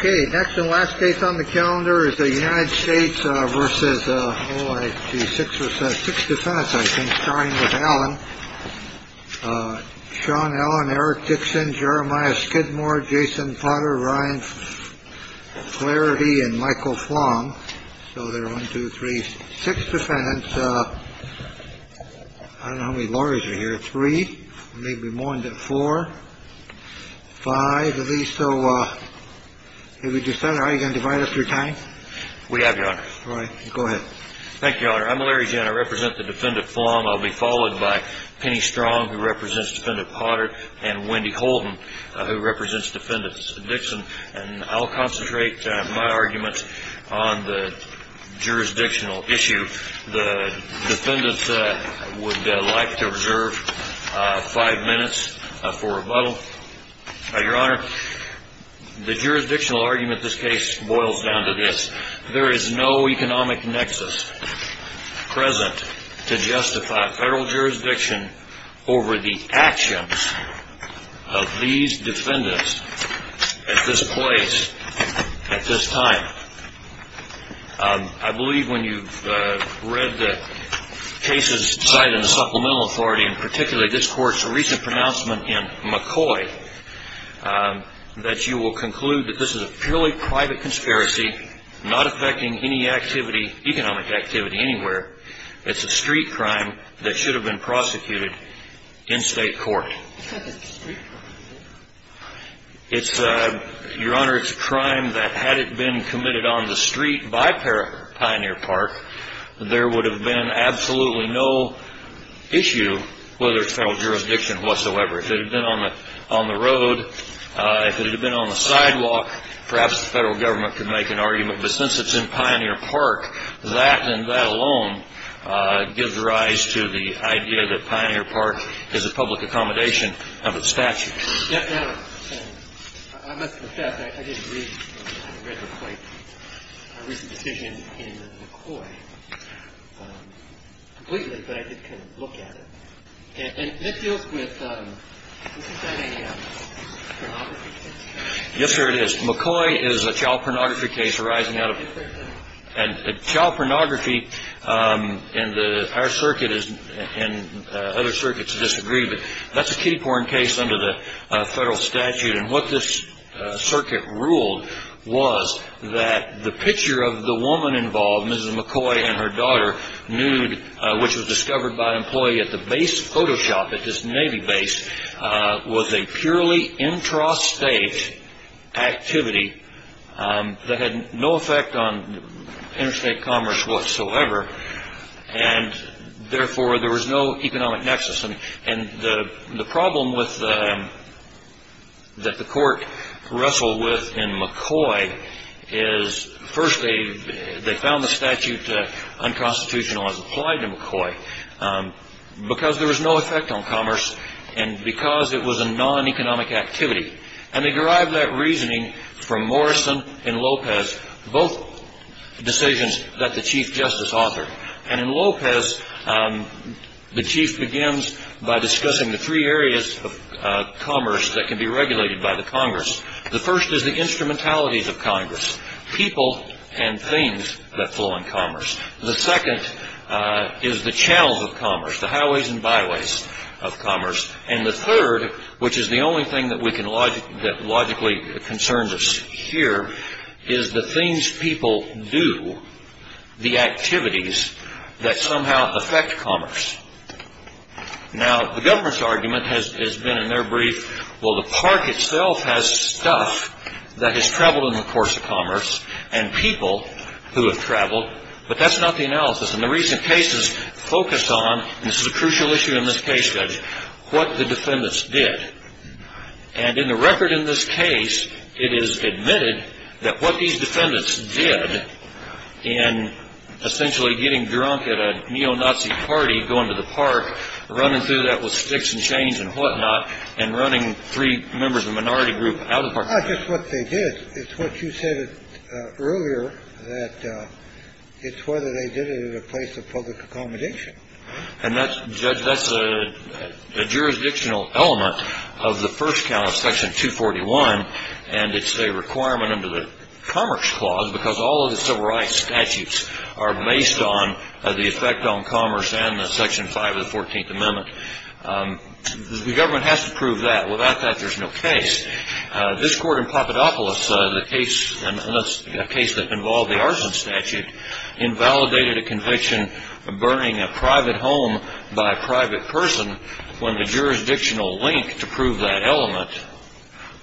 OK, next and last case on the calendar is the United States versus six or six defense. I think starting with Alan, Sean Allen, Eric Dixon, Jeremiah Skidmore, Jason Potter, Ryan Clarity and Michael Fong. So there are one, two, three, six defendants. I don't know how many lawyers are here. Three, maybe more than four, five of these. So if you decide I can divide up your time. We have your right. Go ahead. Thank you, Your Honor. I'm Larry Jenner. I represent the defendant form. I'll be followed by Penny Strong, who represents defendant Potter and Wendy Holden, who represents defendants Dixon. And I'll concentrate my arguments on the jurisdictional issue. The defendants would like to reserve five minutes for rebuttal. Your Honor, the jurisdictional argument this case boils down to this. There is no economic nexus present to justify federal jurisdiction over the actions of these defendants at this place at this time. I believe when you've read the cases cited in the Supplemental Authority, and particularly this court's recent pronouncement in McCoy, that you will conclude that this is a purely private conspiracy, not affecting any activity, economic activity anywhere. It's a street crime that should have been prosecuted in state court. Your Honor, it's a crime that had it been committed on the street by Pioneer Park, there would have been absolutely no issue whether it's federal jurisdiction whatsoever. If it had been on the road, if it had been on the sidewalk, perhaps the federal government could make an argument. But since it's in Pioneer Park, that and that alone gives rise to the idea that Pioneer Park is a public accommodation of its statutes. Your Honor, I must confess, I didn't read the quite recent decision in McCoy completely, but I did kind of look at it. And that deals with, is that a pornography case? Yes, sir, it is. McCoy is a child pornography case arising out of it. And child pornography in our circuit and other circuits disagree, but that's a kiddie porn case under the federal statute. And what this circuit ruled was that the picture of the woman involved, Mrs. McCoy and her daughter, nude, which was discovered by an employee at the base of Photoshop at this Navy base, was a purely intrastate activity that had no effect on interstate commerce whatsoever. And therefore, there was no economic nexus. And the problem that the court wrestled with in McCoy is, first, they found the statute unconstitutional as applied to McCoy because there was no effect on commerce and because it was a non-economic activity. And they derived that reasoning from Morrison and Lopez, both decisions that the Chief Justice authored. And in Lopez, the Chief begins by discussing the three areas of commerce that can be regulated by the Congress. The first is the instrumentalities of Congress. People and things that flow in commerce. The second is the channels of commerce, the highways and byways of commerce. And the third, which is the only thing that logically concerns us here, is the things people do, the activities that somehow affect commerce. Now, the government's argument has been in their brief, well, the park itself has stuff that has traveled in the course of commerce and people who have traveled, but that's not the analysis. And the recent cases focus on, and this is a crucial issue in this case, Judge, what the defendants did. And in the record in this case, it is admitted that what these defendants did in essentially getting drunk at a neo-Nazi party, going to the park, running through that with sticks and chains and whatnot, and running three members of minority group out of the park. Not just what they did. It's what you said earlier that it's whether they did it in a place of public accommodation. And that's, Judge, that's a jurisdictional element of the first count of Section 241. And it's a requirement under the Commerce Clause, because all of the civil rights statutes are based on the effect on commerce and the Section 5 of the 14th Amendment. The government has to prove that. Without that, there's no case. This court in Papadopoulos, the case, a case that involved the arson statute, invalidated a conviction of burning a private home by a private person when the jurisdictional link to prove that element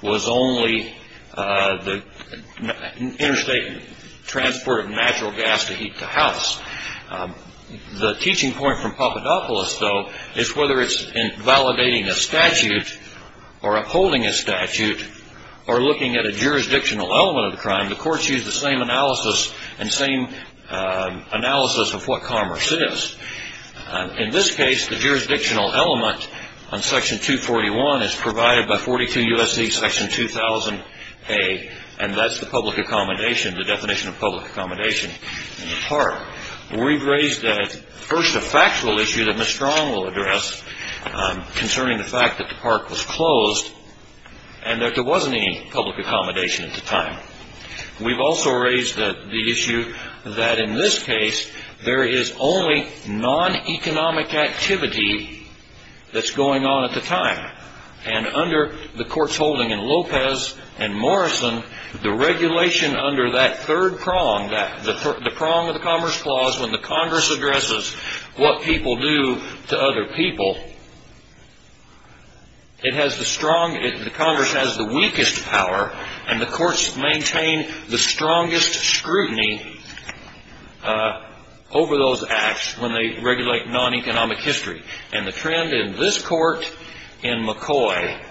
was only the interstate transport of natural gas to heat the house. The teaching point from Papadopoulos, though, is whether it's in validating a statute or upholding a statute or looking at a jurisdictional element of the crime, the courts use the same analysis and same analysis of what commerce is. In this case, the jurisdictional element on Section 241 is provided by 42 U.S.C. Section 2000A, and that's the public accommodation, the definition of public accommodation in the park. We've raised, first, a factual issue that Ms. Strong will address concerning the fact that the park was closed and that there wasn't any public accommodation at the time. We've also raised the issue that, in this case, there is only non-economic activity that's going on at the time. And under the courts holding in Lopez and Morrison, the regulation under that third prong, the prong of the Commerce Clause when the Congress addresses what people do to other people, the Congress has the weakest power, and the courts maintain the strongest scrutiny over those acts when they regulate non-economic history. And the trend in this court, in McCoy,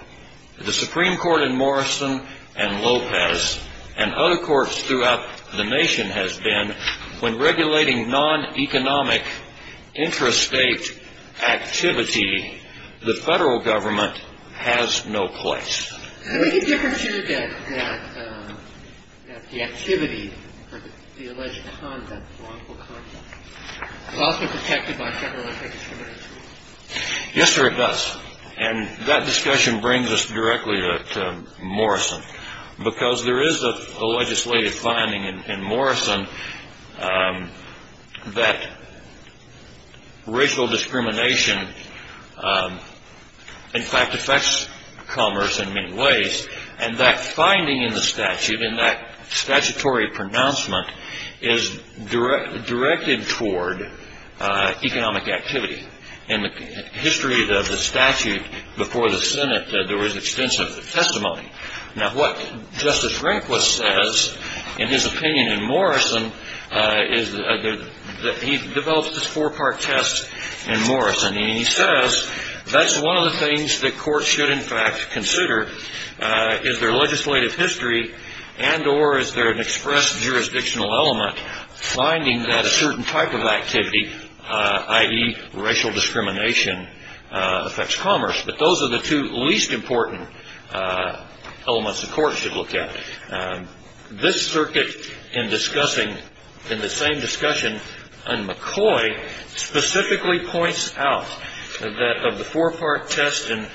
the Supreme Court in Morrison and Lopez, and other courts throughout the nation has been, when regulating non-economic intrastate activity, the federal government has no place. Is there any difference here that the activity, the alleged conduct, wrongful conduct, is also protected by federal and state discriminatory tools? Yes, there is. And that discussion brings us directly to Morrison. Because there is a legislative finding in Morrison that racial discrimination, in fact, affects commerce in many ways. And that finding in the statute, in that statutory pronouncement, is directed toward economic activity. In the history of the statute before the Senate, there was extensive testimony. Now, what Justice Rehnquist says in his opinion in Morrison is that he develops this four-part test in Morrison. And he says that's one of the things that courts should, in fact, consider. Is there legislative history and or is there an express jurisdictional element finding that a certain type of activity, i.e. racial discrimination, affects commerce? But those are the two least important elements the court should look at. This circuit in discussing, in the same discussion in McCoy, specifically points out that of the four-part test in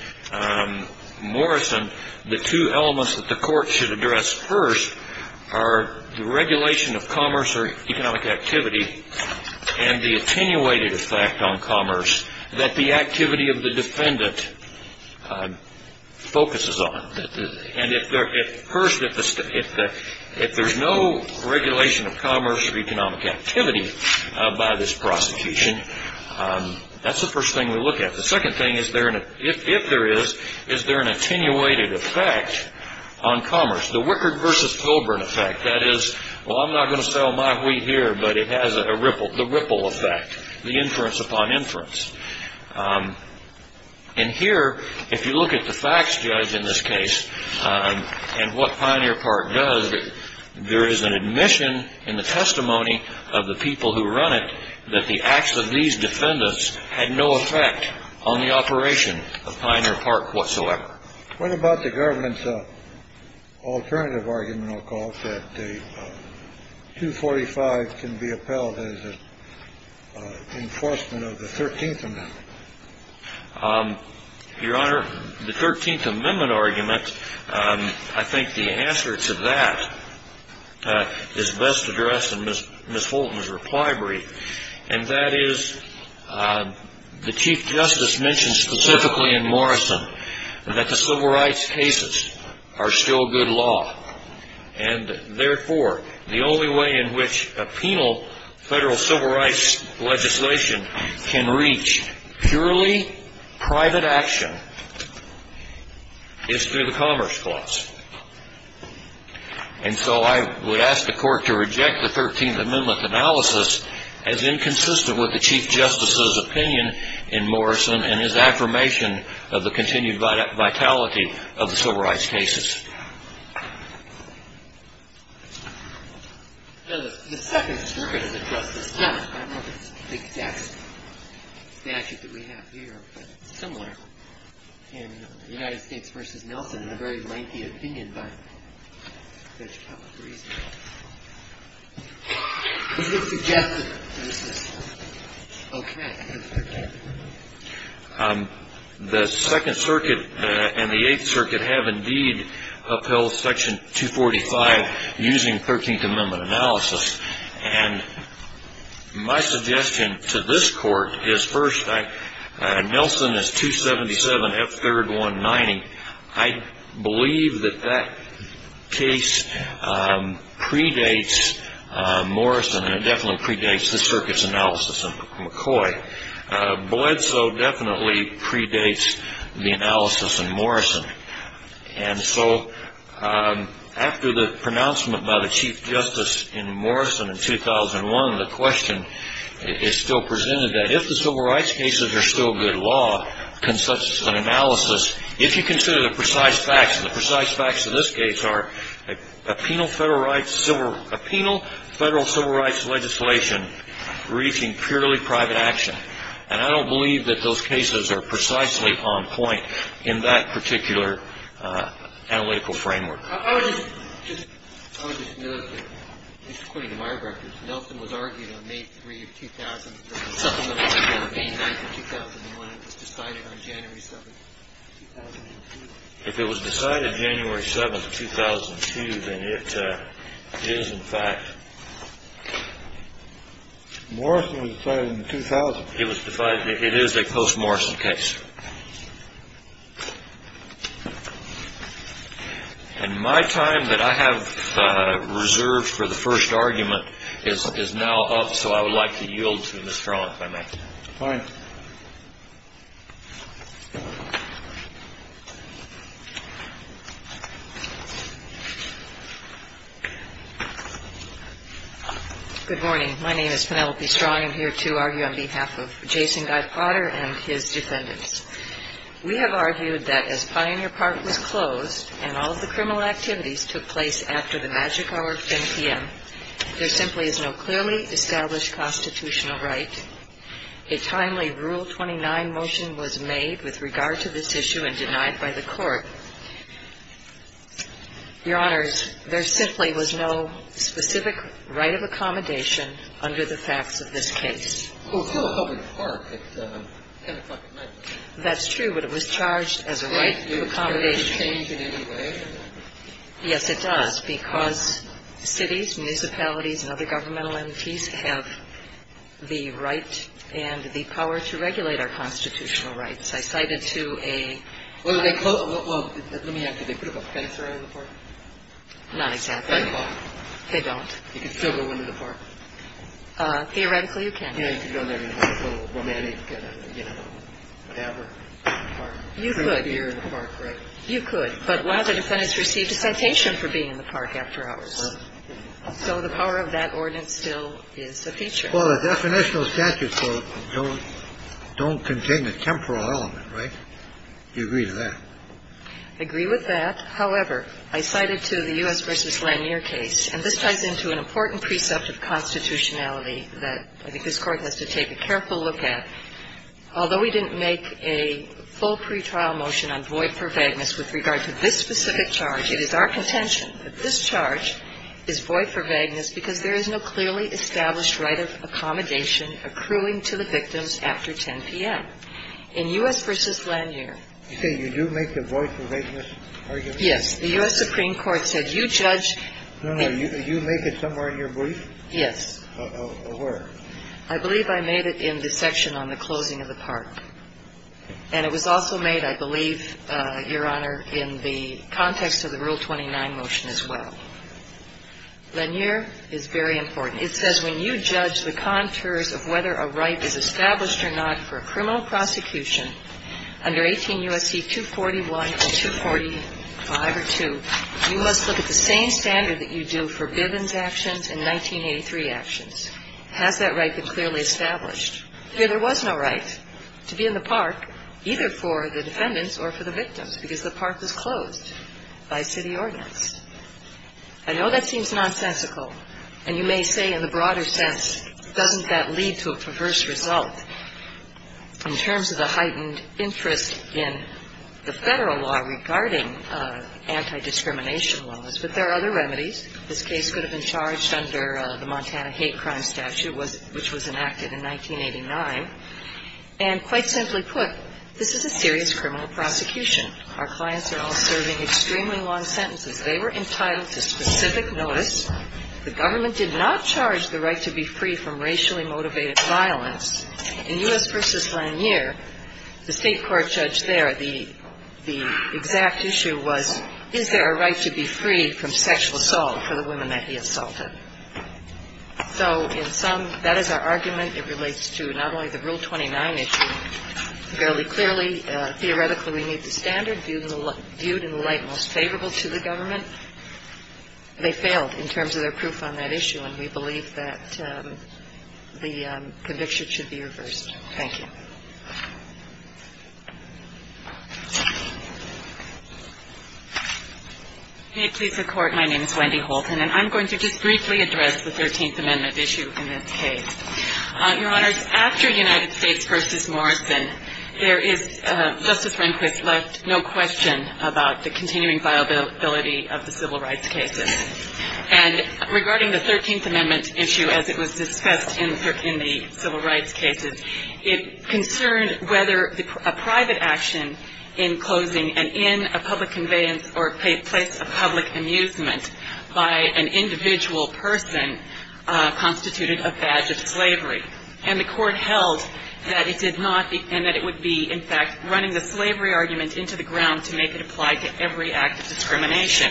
Morrison, the two elements that the court should address first are the regulation of commerce or economic activity and the attenuated effect on commerce that the activity of the defendant focuses on. And first, if there's no regulation of commerce or economic activity by this prosecution, that's the first thing to look at. The second thing, if there is, is there an attenuated effect on commerce? The Wickard versus Colburn effect. That is, well, I'm not going to sell my wheat here, but it has the ripple effect, the inference upon inference. And here, if you look at the facts judge in this case and what Pioneer Park does, there is an admission in the testimony of the people who run it that the acts of these defendants had no effect on the operation of Pioneer Park whatsoever. What about the government's alternative argument, I'll call it, that the 245 can be appelled as an enforcement of the 13th Amendment? Your Honor, the 13th Amendment argument, I think the answer to that is best addressed in Miss Fulton's reply brief. And that is, the Chief Justice mentioned specifically in Morrison that the civil rights cases are still good law. And therefore, the only way in which a penal federal civil rights legislation can reach purely private action is through the Commerce Clause. And so I would ask the Court to reject the 13th Amendment analysis as inconsistent with the Chief Justice's opinion in Morrison and his affirmation of the continued vitality of the civil rights cases. The Second Circuit has addressed this, I don't know if it's the exact statute that we have here, but it's similar in the United States v. Nelson in a very lengthy opinion by Judge Calabresi. Is it suggestive that this is okay? The Second Circuit and the Eighth Circuit have indeed upheld Section 245 using 13th Amendment analysis. And my suggestion to this Court is, first, Nelson is 277 F. 3rd 190. I believe that that case predates Morrison and it definitely predates the Circuit's analysis in McCoy. Bledsoe definitely predates the analysis in Morrison. And so after the pronouncement by the Chief Justice in Morrison in 2001, the question is still presented that if the civil rights cases are still good law, can such an analysis, if you consider the precise facts, and the precise facts in this case are a penal federal civil rights legislation reaching purely private action. And I don't believe that those cases are precisely on point in that particular analytical framework. I would just note that, just according to my records, Nelson was argued on May 3, 2000. Supplementally, on May 9, 2001, it was decided on January 7, 2002. If it was decided January 7, 2002, then it is in fact. Morrison was decided in 2000. It was decided. It is a post-Morrison case. And my time that I have reserved for the first argument is now up. So I would like to yield to Mr. Arlen if I may. Fine. Good morning. My name is Penelope Strong. I'm here to argue on behalf of Jason Guy Potter and his defendants. We have argued that as Pioneer Park was closed and all of the criminal activities took place after the magic hour of 10 p.m., there simply is no clearly established constitutional right. A timely Rule 29 motion was made with regard to this issue and denied by the court. Your Honors, there simply was no specific right of accommodation under the facts of this case. Well, it's not a public park. It's 10 o'clock at night. That's true, but it was charged as a right of accommodation. Does it change in any way? Yes, it does. Because cities, municipalities, and other governmental entities have the right and the power to regulate our constitutional rights. I cited to a- Well, let me ask you, they put up a fence around the park? Not exactly. They don't. You can still go into the park. Theoretically, you can. Yeah, you can go in there and have a little romantic, you know, whatever. You could. You could. But one of the defendants received a citation for being in the park after hours. So the power of that ordinance still is a feature. Well, the definitional statutes don't contain a temporal element, right? Do you agree with that? I agree with that. However, I cited to the U.S. v. Lanier case, and this ties into an important precept of constitutionality that I think this Court has to take a careful look at. Although we didn't make a full pretrial motion on void for vagueness with regard to this specific charge, it is our contention that this charge is void for vagueness because there is no clearly established right of accommodation accruing to the victims after 10 p.m. In U.S. v. Lanier- You say you do make the void for vagueness argument? Yes. The U.S. Supreme Court said you judge- No, no. You make it somewhere in your brief? Yes. Where? I believe I made it in the section on the closing of the park. And it was also made, I believe, Your Honor, in the context of the Rule 29 motion as well. Lanier is very important. It says when you judge the contours of whether a right is established or not for a criminal prosecution under 18 U.S.C. 241 and 245 or 2, you must look at the same standard that you do for Bivens actions and 1983 actions. Has that right been clearly established? There was no right to be in the park, either for the defendants or for the victims, because the park was closed by city ordinance. I know that seems nonsensical, and you may say in the broader sense, doesn't that lead to a perverse result in terms of the heightened interest in the Federal law regarding anti-discrimination laws, but there are other remedies. This case could have been charged under the Montana Hate Crime Statute, which was enacted in 1989. And quite simply put, this is a serious criminal prosecution. Our clients are all serving extremely long sentences. They were entitled to specific notice. The government did not charge the right to be free from racially motivated violence. In U.S. v. Lanier, the state court judge there, the exact issue was, is there a right to be free from sexual assault for the women that he assaulted? So in sum, that is our argument. It relates to not only the Rule 29 issue fairly clearly. Theoretically, we need the standard viewed in the light most favorable to the government. They failed in terms of their proof on that issue, and we believe that the conviction should be reversed. Thank you. MS. HOLTON. May it please the Court, my name is Wendy Holton, and I'm going to just briefly address the Thirteenth Amendment issue in this case. Your Honors, after United States v. Morrison, there is, Justice Rehnquist left no question about the continuing viability of the civil rights cases. And regarding the Thirteenth Amendment issue, as it was discussed in the civil rights cases, it concerned whether a private action in closing and in a public conveyance or place of public amusement by an individual person constituted a badge of slavery. And the Court held that it did not, and that it would be, in fact, running the slavery argument into the ground to make it apply to every act of discrimination.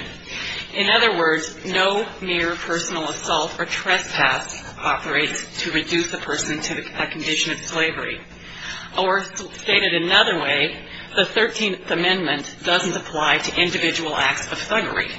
In other words, no mere personal assault or trespass operates to reduce a person to a condition of slavery. Or stated another way, the Thirteenth Amendment doesn't apply to individual acts of thuggery.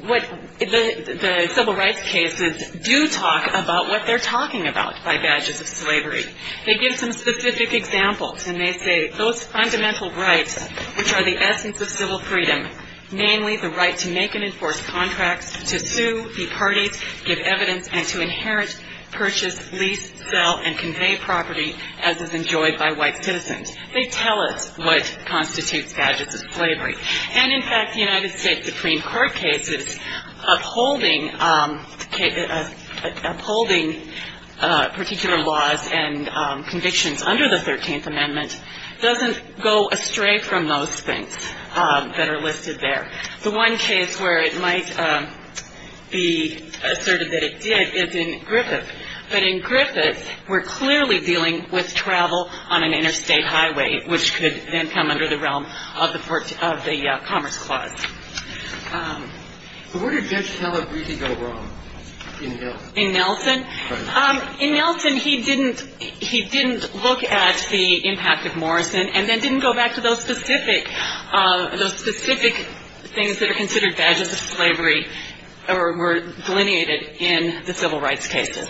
The civil rights cases do talk about what they're talking about by badges of slavery. They give some specific examples, and they say those fundamental rights, which are the essence of civil freedom, namely the right to make and enforce contracts, to sue, be partied, give evidence, and to inherit, purchase, lease, sell, and convey property as is enjoyed by white citizens. They tell us what constitutes badges of slavery. And, in fact, the United States Supreme Court cases upholding particular laws and convictions under the Thirteenth Amendment doesn't go astray from those things that are listed there. The one case where it might be asserted that it did is in Griffith. But in Griffith, we're clearly dealing with travel on an interstate highway, which could then come under the realm of the Commerce Clause. So where did Judge Heller really go wrong in Nelson? In Nelson? In Nelson, he didn't look at the impact of Morrison, and then didn't go back to those specific things that are considered badges of slavery or were delineated in the civil rights cases.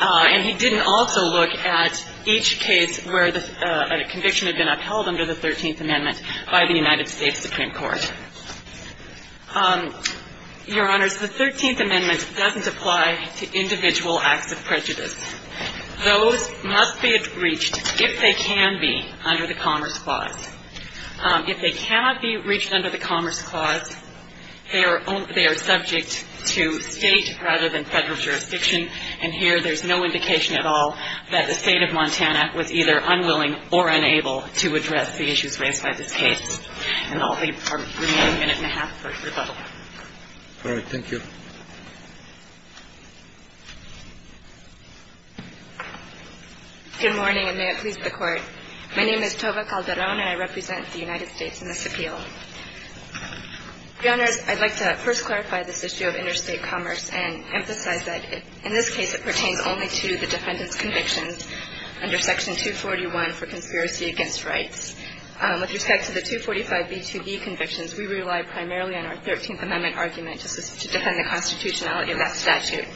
And he didn't also look at each case where a conviction had been upheld under the Thirteenth Amendment by the United States Supreme Court. Your Honors, the Thirteenth Amendment doesn't apply to individual acts of prejudice. Those must be reached, if they can be, under the Commerce Clause. If they cannot be reached under the Commerce Clause, they are subject to State rather than Federal jurisdiction. And here, there's no indication at all that the State of Montana was either unwilling or unable to address the issues raised by this case. And I'll leave for a minute and a half for rebuttal. All right. Thank you. Good morning, and may it please the Court. My name is Tova Calderon, and I represent the United States in this appeal. Your Honors, I'd like to first clarify this issue of interstate commerce and emphasize that, in this case, it pertains only to the defendant's convictions under Section 241 for conspiracy against rights. With respect to the 245b2b convictions, we rely primarily on our Thirteenth Amendment argument to defend the constitutionality of that statute.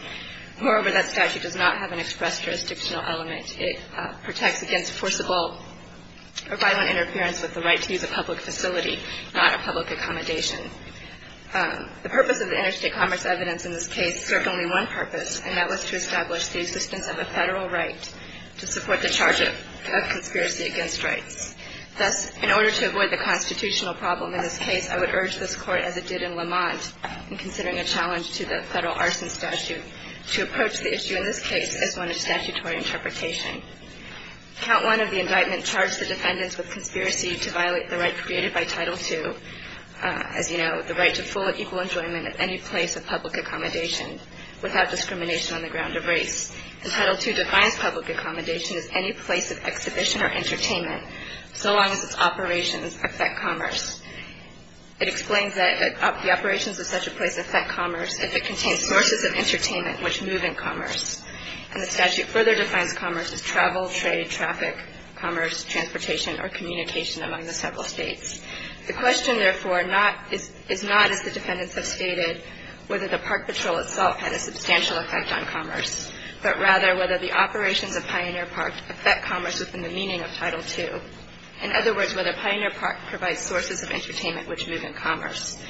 Moreover, that statute does not have an express jurisdictional element. It protects against forcible or violent interference with the right to use a public facility, not a public accommodation. The purpose of the interstate commerce evidence in this case served only one purpose, and that was to establish the existence of a Federal right to support the charge of conspiracy against rights. Thus, in order to avoid the constitutional problem in this case, I would urge this Court, as it did in Lamont in considering a challenge to the Federal arson statute, to approach the issue in this case as one of statutory interpretation. Count 1 of the indictment charged the defendants with conspiracy to violate the right created by Title II, as you know, the right to full and equal enjoyment at any place of public accommodation without discrimination on the ground of race. And Title II defines public accommodation as any place of exhibition or entertainment, so long as its operations affect commerce. It explains that the operations of such a place affect commerce if it contains sources of entertainment which move in commerce. And the statute further defines commerce as travel, trade, traffic, commerce, transportation, or communication among the several States. The question, therefore, is not, as the defendants have stated, whether the park patrol itself had a substantial effect on commerce, but rather whether the operations of Pioneer Park affect commerce within the meaning of Title II. In other words, whether Pioneer Park provides sources of entertainment which move in commerce.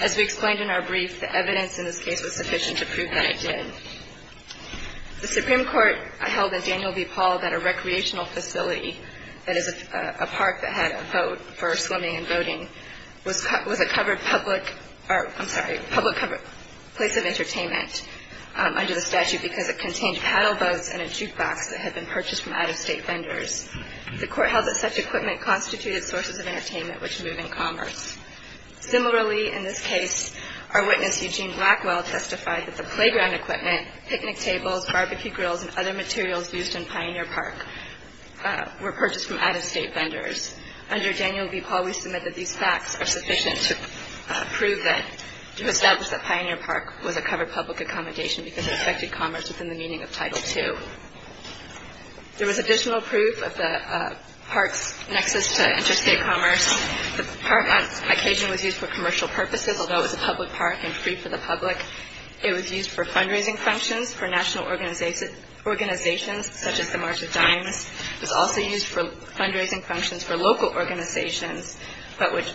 As we explained in our brief, the evidence in this case was sufficient to prove that it did. The Supreme Court held in Daniel v. Paul that a recreational facility, that is, a park that had a vote for swimming and boating, was a covered public or, I'm sorry, public place of entertainment under the statute because it contained paddle boats and a jukebox that had been purchased from out-of-State vendors. The Court held that such equipment constituted sources of entertainment which move in commerce. Similarly, in this case, our witness, Eugene Blackwell, testified that the playground equipment, picnic tables, barbecue grills, and other materials used in Pioneer Park were purchased from out-of-State vendors. Under Daniel v. Paul, we submit that these facts are sufficient to prove that, to establish that Pioneer Park was a covered public accommodation because it affected commerce within the meaning of Title II. There was additional proof of the park's nexus to interstate commerce. The park, on occasion, was used for commercial purposes, although it was a public park and free for the public. It was used for fundraising functions for national organizations such as the March of Dimes. It was also used for fundraising functions for local organizations but with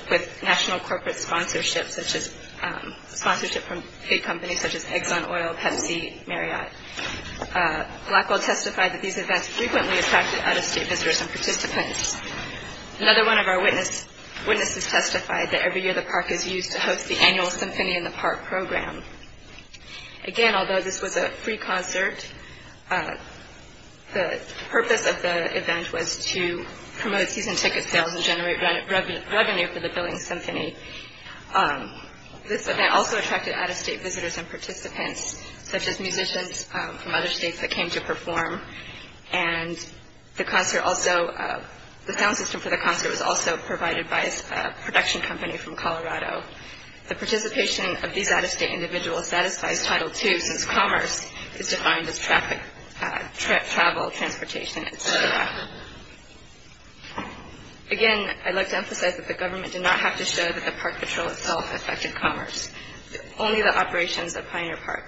national corporate sponsorship from state companies such as Exxon Oil, Pepsi, Marriott. Blackwell testified that these events frequently attracted out-of-State visitors and participants. Another one of our witnesses testified that every year the park is used to host the annual Symphony in the Park program. Again, although this was a free concert, the purpose of the event was to promote season ticket sales and generate revenue for the billing symphony. This event also attracted out-of-State visitors and participants such as musicians from other states that came to perform. The sound system for the concert was also provided by a production company from Colorado. The participation of these out-of-State individuals satisfies Title II since commerce is defined as travel, transportation, etc. Again, I'd like to emphasize that the government did not have to show that the park patrol itself affected commerce. Only that the operations of Pioneer Park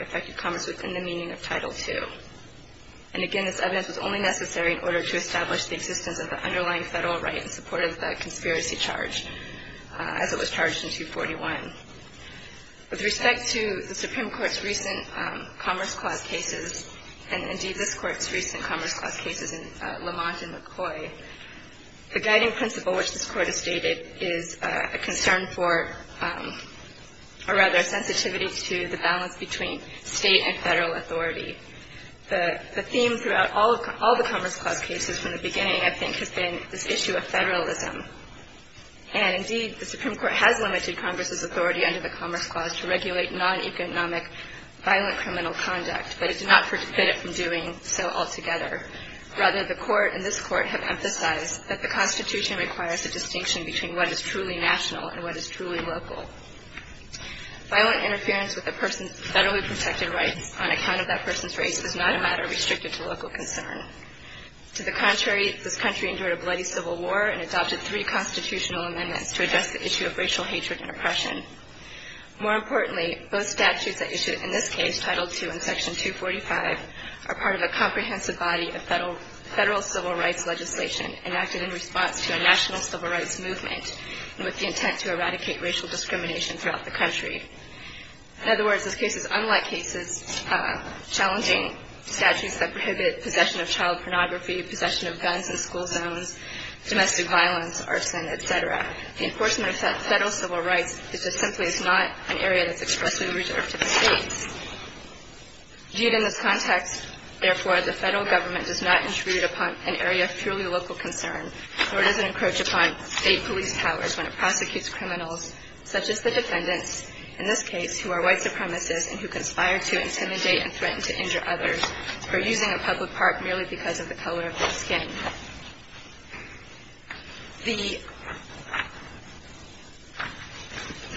affected commerce within the meaning of Title II. And again, this evidence was only necessary in order to establish the existence of the underlying federal right in support of the conspiracy charge as it was charged in 241. With respect to the Supreme Court's recent Commerce Clause cases and indeed this Court's recent Commerce Clause cases in Lamont and McCoy, the guiding principle which this Court has stated is a concern for, or rather a sensitivity to the balance between State and federal authority. The theme throughout all the Commerce Clause cases from the beginning, I think, has been this issue of federalism. And indeed, the Supreme Court has limited Congress's authority under the Commerce Clause to regulate non-economic violent criminal conduct, but it did not forbid it from doing so altogether. Rather, the Court and this Court have emphasized that the Constitution requires a distinction between what is truly national and what is truly local. Violent interference with a person's federally protected rights on account of that person's race is not a matter restricted to local concern. To the contrary, this country endured a bloody civil war and adopted three constitutional amendments to address the issue of racial hatred and oppression. More importantly, both statutes that issued in this case, Title II and Section 245, are part of a comprehensive body of federal civil rights legislation enacted in response to a national civil rights movement with the intent to eradicate racial discrimination throughout the country. In other words, this case is unlike cases challenging statutes that prohibit possession of child pornography, possession of guns in school zones, domestic violence, arson, et cetera. The enforcement of federal civil rights is just simply not an area that's expressly reserved to the States. Viewed in this context, therefore, the federal government does not intrude upon an area of purely local concern nor does it encroach upon State police powers when it prosecutes criminals such as the defendants, in this case, who are white supremacists and who conspire to intimidate and threaten to injure others for using a public park merely because of the color of their skin. The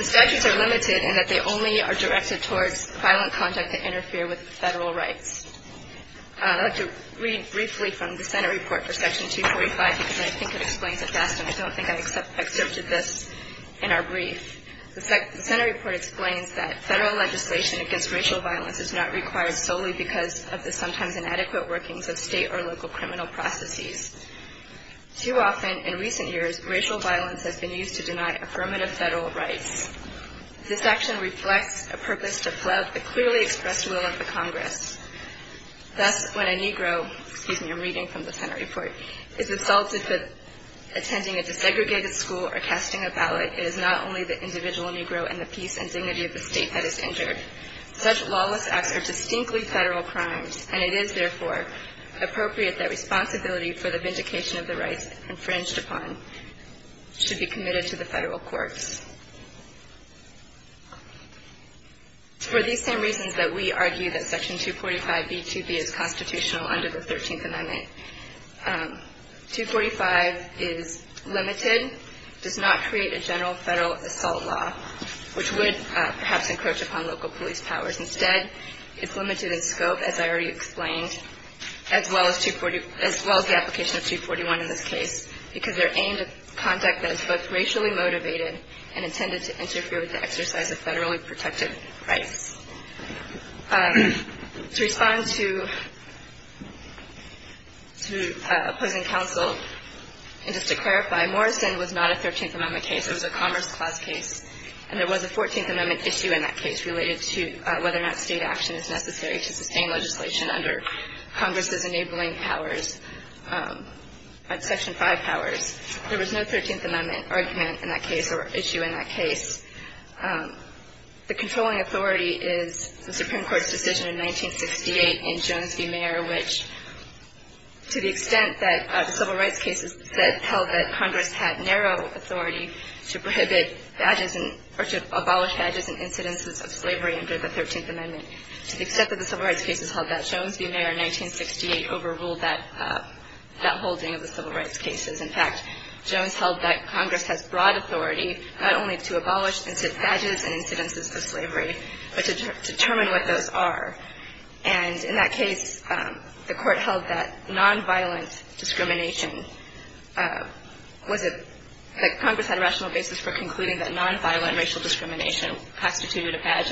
statutes are limited in that they only are directed towards violent conduct that interfere with federal rights. I'd like to read briefly from the Senate report for Section 245 because I think it explains it best and I don't think I exerted this in our brief. The Senate report explains that federal legislation against racial violence is not required solely because of the sometimes inadequate workings of State or local criminal processes. Too often, in recent years, racial violence has been used to deny affirmative federal rights. This action reflects a purpose to flout the clearly expressed will of the Congress. Thus, when a Negro, excuse me, I'm reading from the Senate report, is assaulted for attending a desegregated school or casting a ballot, it is not only the individual Negro and the peace and dignity of the State that is injured. Such lawless acts are distinctly federal crimes and it is, therefore, appropriate that responsibility for the vindication of the rights infringed upon should be committed to the federal courts. It's for these same reasons that we argue that Section 245b2b is constitutional under the 13th Amendment. 245 is limited, does not create a general federal assault law, which would perhaps encroach upon local police powers. Instead, it's limited in scope, as I already explained, as well as the application of 241 in this case, because they're aimed at conduct that is both racially motivated and intended to interfere with the exercise of federally protected rights. To respond to opposing counsel, and just to clarify, Morrison was not a 13th Amendment case. It was a Commerce Clause case, and there was a 14th Amendment issue in that case related to whether or not State action is necessary to sustain legislation under Congress's enabling powers, Section 5 powers. There was no 13th Amendment argument in that case or issue in that case. The controlling authority is the Supreme Court's decision in 1968 in Jones v. Mayer, which, to the extent that the civil rights cases that held that Congress had narrow authority to prohibit badges or to abolish badges and incidences of slavery under the 13th Amendment, to the extent that the civil rights cases held that, Jones v. Mayer in 1968 overruled that holding of the civil rights cases. In fact, Jones held that Congress has broad authority not only to abolish badges and incidences of slavery, but to determine what those are. And in that case, the Court held that nonviolent discrimination was a – that Congress had a rational basis for concluding that nonviolent racial discrimination constituted a badge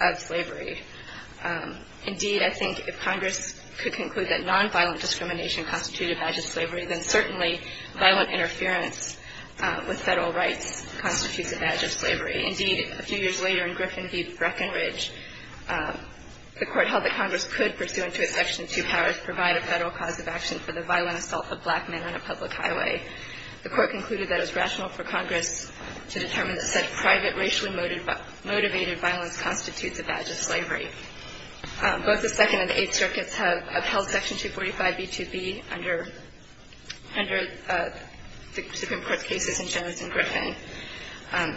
of slavery. Indeed, I think if Congress could conclude that nonviolent discrimination constituted a badge of slavery, then certainly violent interference with Federal rights constitutes a badge of slavery. Indeed, a few years later in Griffin v. Breckinridge, the Court held that Congress could, pursuant to its Section 2 powers, provide a Federal cause of action for the violent assault of black men on a public highway. The Court concluded that it was rational for Congress to determine that such private racially motivated violence constitutes a badge of slavery. Both the Second and Eighth Circuits have held Section 245b-2b under the Supreme Court cases in Jones and Griffin.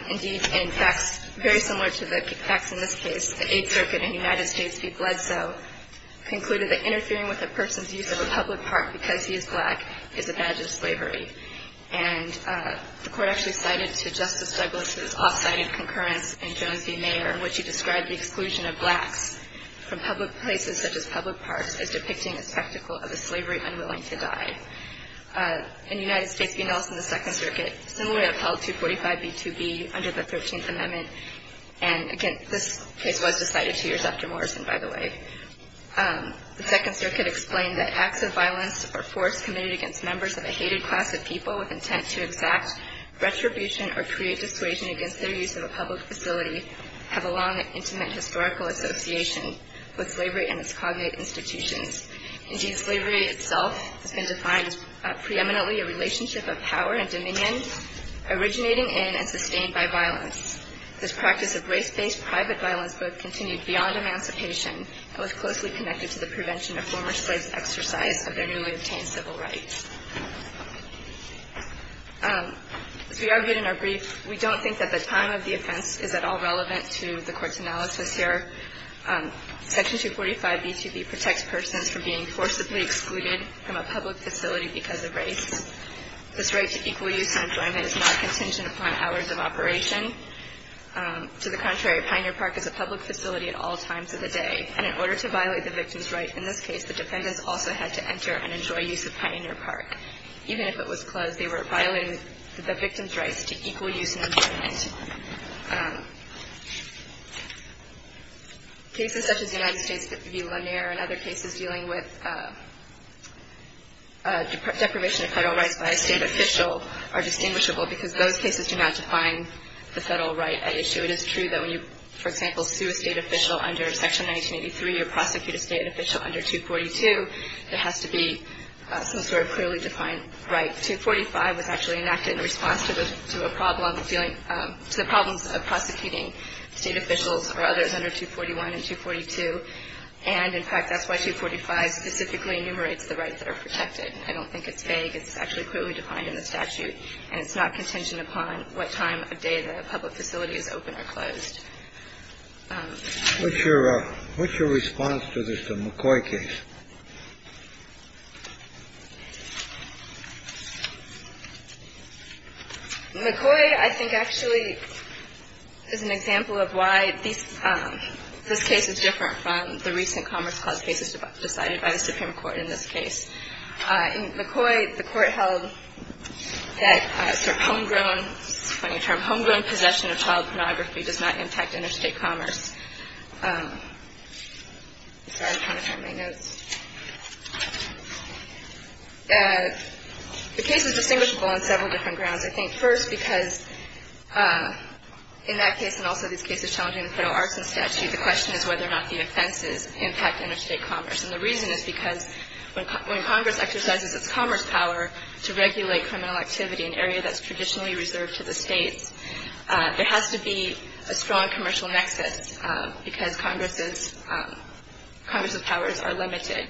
Indeed, in facts very similar to the facts in this case, the Eighth Circuit in the United States, be bled so, concluded that interfering with a person's use of a public park because he is black is a badge of slavery. And the Court actually cited to Justice Douglas' off-cited concurrence in Jones v. Mayer in which he described the exclusion of blacks from public places such as public parks as depicting a spectacle of a slavery unwilling to die. In the United States v. Nelson, the Second Circuit similarly upheld 245b-2b under the Thirteenth Amendment. And again, this case was decided two years after Morrison, by the way. The Second Circuit explained that acts of violence or force committed against members of a hated class of people with intent to exact retribution or create dissuasion against their use of a public facility have a long and intimate historical association with slavery and its cognate institutions. Indeed, slavery itself has been defined as preeminently a relationship of power and dominion originating in and sustained by violence. This practice of race-based private violence both continued beyond emancipation and was closely connected to the prevention of former slaves' exercise of their newly obtained civil rights. As we argued in our brief, we don't think that the time of the offense is at all relevant to the Court's analysis here. Section 245b-2b protects persons from being forcibly excluded from a public facility because of race. This right to equal use and enjoyment is not contingent upon hours of operation. To the contrary, Pioneer Park is a public facility at all times of the day. And in order to violate the victim's right in this case, the defendants also had to enter and enjoy use of Pioneer Park. Even if it was closed, they were violating the victim's rights to equal use and enjoyment. Cases such as the United States v. Lanier and other cases dealing with deprivation of federal rights by a state official are distinguishable because those cases do not define the federal right at issue. It is true that when you, for example, sue a state official under Section 1983 or prosecute a state official under 242, there has to be some sort of clearly defined right. 245 was actually enacted in response to a problem dealing to the problems of prosecuting state officials or others under 241 and 242. And, in fact, that's why 245 specifically enumerates the rights that are protected. I don't think it's vague. It's actually clearly defined in the statute. And it's not contingent upon what time of day the public facility is open or closed. What's your response to this McCoy case? McCoy, I think, actually is an example of why this case is different from the recent Commerce Clause cases decided by the Supreme Court in this case. In McCoy, the Court held that sort of homegrown, funny term, homegrown possession of child pornography does not impact interstate commerce. Sorry, I'm trying to find my notes. The case is distinguishable on several different grounds. I think, first, because in that case and also these cases challenging the federal arson statute, the question is whether or not the offenses impact interstate commerce. And the reason is because when Congress exercises its commerce power to regulate criminal activity, an area that's traditionally reserved to the states, there has to be a strong commercial nexus because Congress's powers are limited.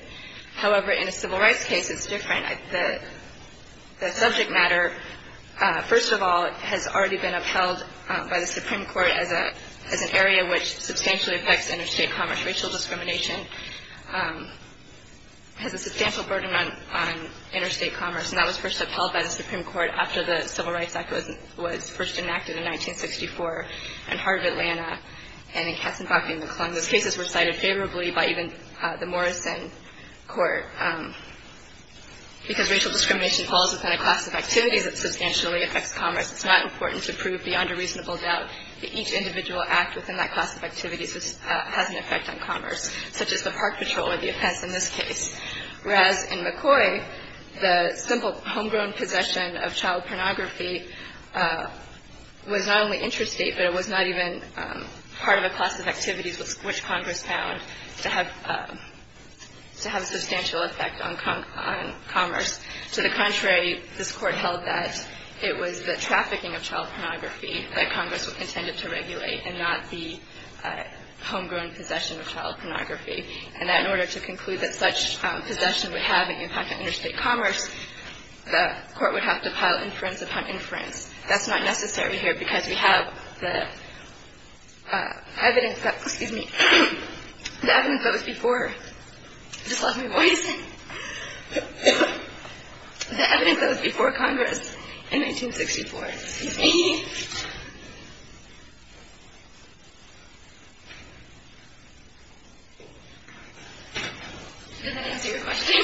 However, in a civil rights case, it's different. The subject matter, first of all, has already been upheld by the Supreme Court as an area which substantially affects interstate commerce, racial discrimination. It has a substantial burden on interstate commerce, and that was first upheld by the Supreme Court after the Civil Rights Act was first enacted in 1964 in Heart of Atlanta and in Katzenbach v. McClung. Those cases were cited favorably by even the Morrison Court because racial discrimination falls within a class of activities that substantially affects commerce. It's not important to prove beyond a reasonable doubt that each individual act within that class of activities has an effect on commerce, such as the park patrol or the offense in this case. Whereas in McCoy, the simple homegrown possession of child pornography was not only interstate, but it was not even part of a class of activities which Congress found to have substantial effect on commerce. To the contrary, this Court held that it was the trafficking of child pornography that Congress intended to regulate and not the homegrown possession of child pornography, and that in order to conclude that such possession would have an impact on interstate commerce, the Court would have to pile inference upon inference. That's not necessary here because we have the evidence that was before Congress in 1964. Excuse me. Did that answer your question?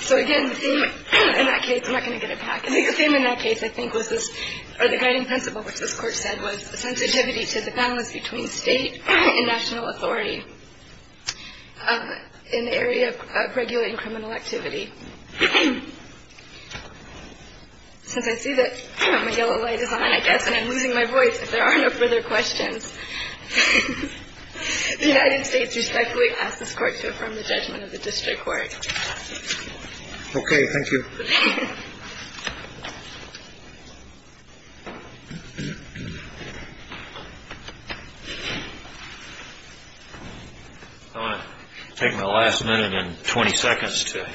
So again, the theme in that case, I'm not going to get it back. I think the theme in that case, I think, was this, or the guiding principle, which this Court said was the sensitivity to the balance between State and national authority in the area of regulating criminal activity. Since I see that my yellow light is on, I guess, and I'm losing my voice, if there are no further questions, the United States respectfully asks this Court to affirm the judgment of the district court. Okay. Thank you. I'm going to take my last minute and 20 seconds to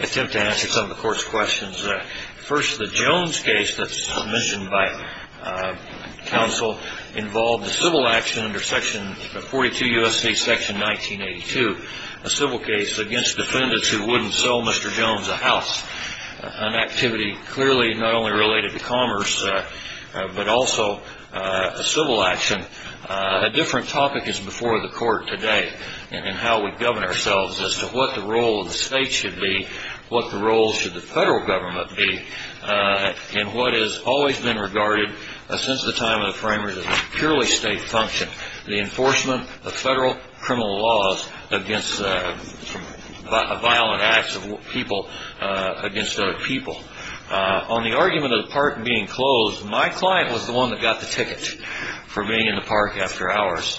attempt to answer some of the Court's questions. First, the Jones case that's submissioned by counsel involved a civil action under section 42 U.S.C. section 1982, a civil case against defendants who wouldn't sell Mr. Jones a house, an activity clearly not only related to commerce, but also a civil action. A different topic is before the Court today in how we govern ourselves as to what the role of the State should be, what the role should the federal government be, and what has always been regarded since the time of the framers as a purely State function, the enforcement of federal criminal laws against violent acts of people against other people. On the argument of the park being closed, my client was the one that got the ticket for being in the park after hours.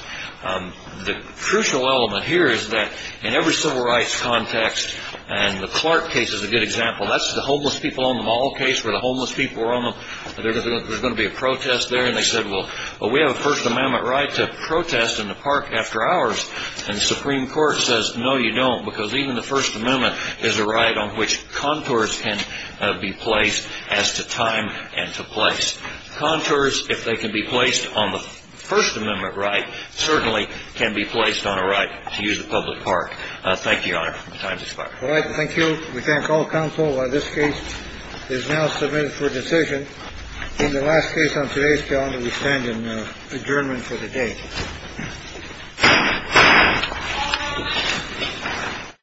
The crucial element here is that in every civil rights context, and the Clark case is a good example, that's the homeless people on the mall case where the homeless people were on them, there's going to be a protest there. And they said, well, we have a First Amendment right to protest in the park after hours. And the Supreme Court says, no, you don't, because even the First Amendment is a right on which contours can be placed as to time and to place. Contours, if they can be placed on the First Amendment right, certainly can be placed on a right to use the public park. Thank you, Your Honor. My time has expired. Thank you. We thank all counsel. This case is now submitted for decision in the last case on today's calendar. We stand in adjournment for the day.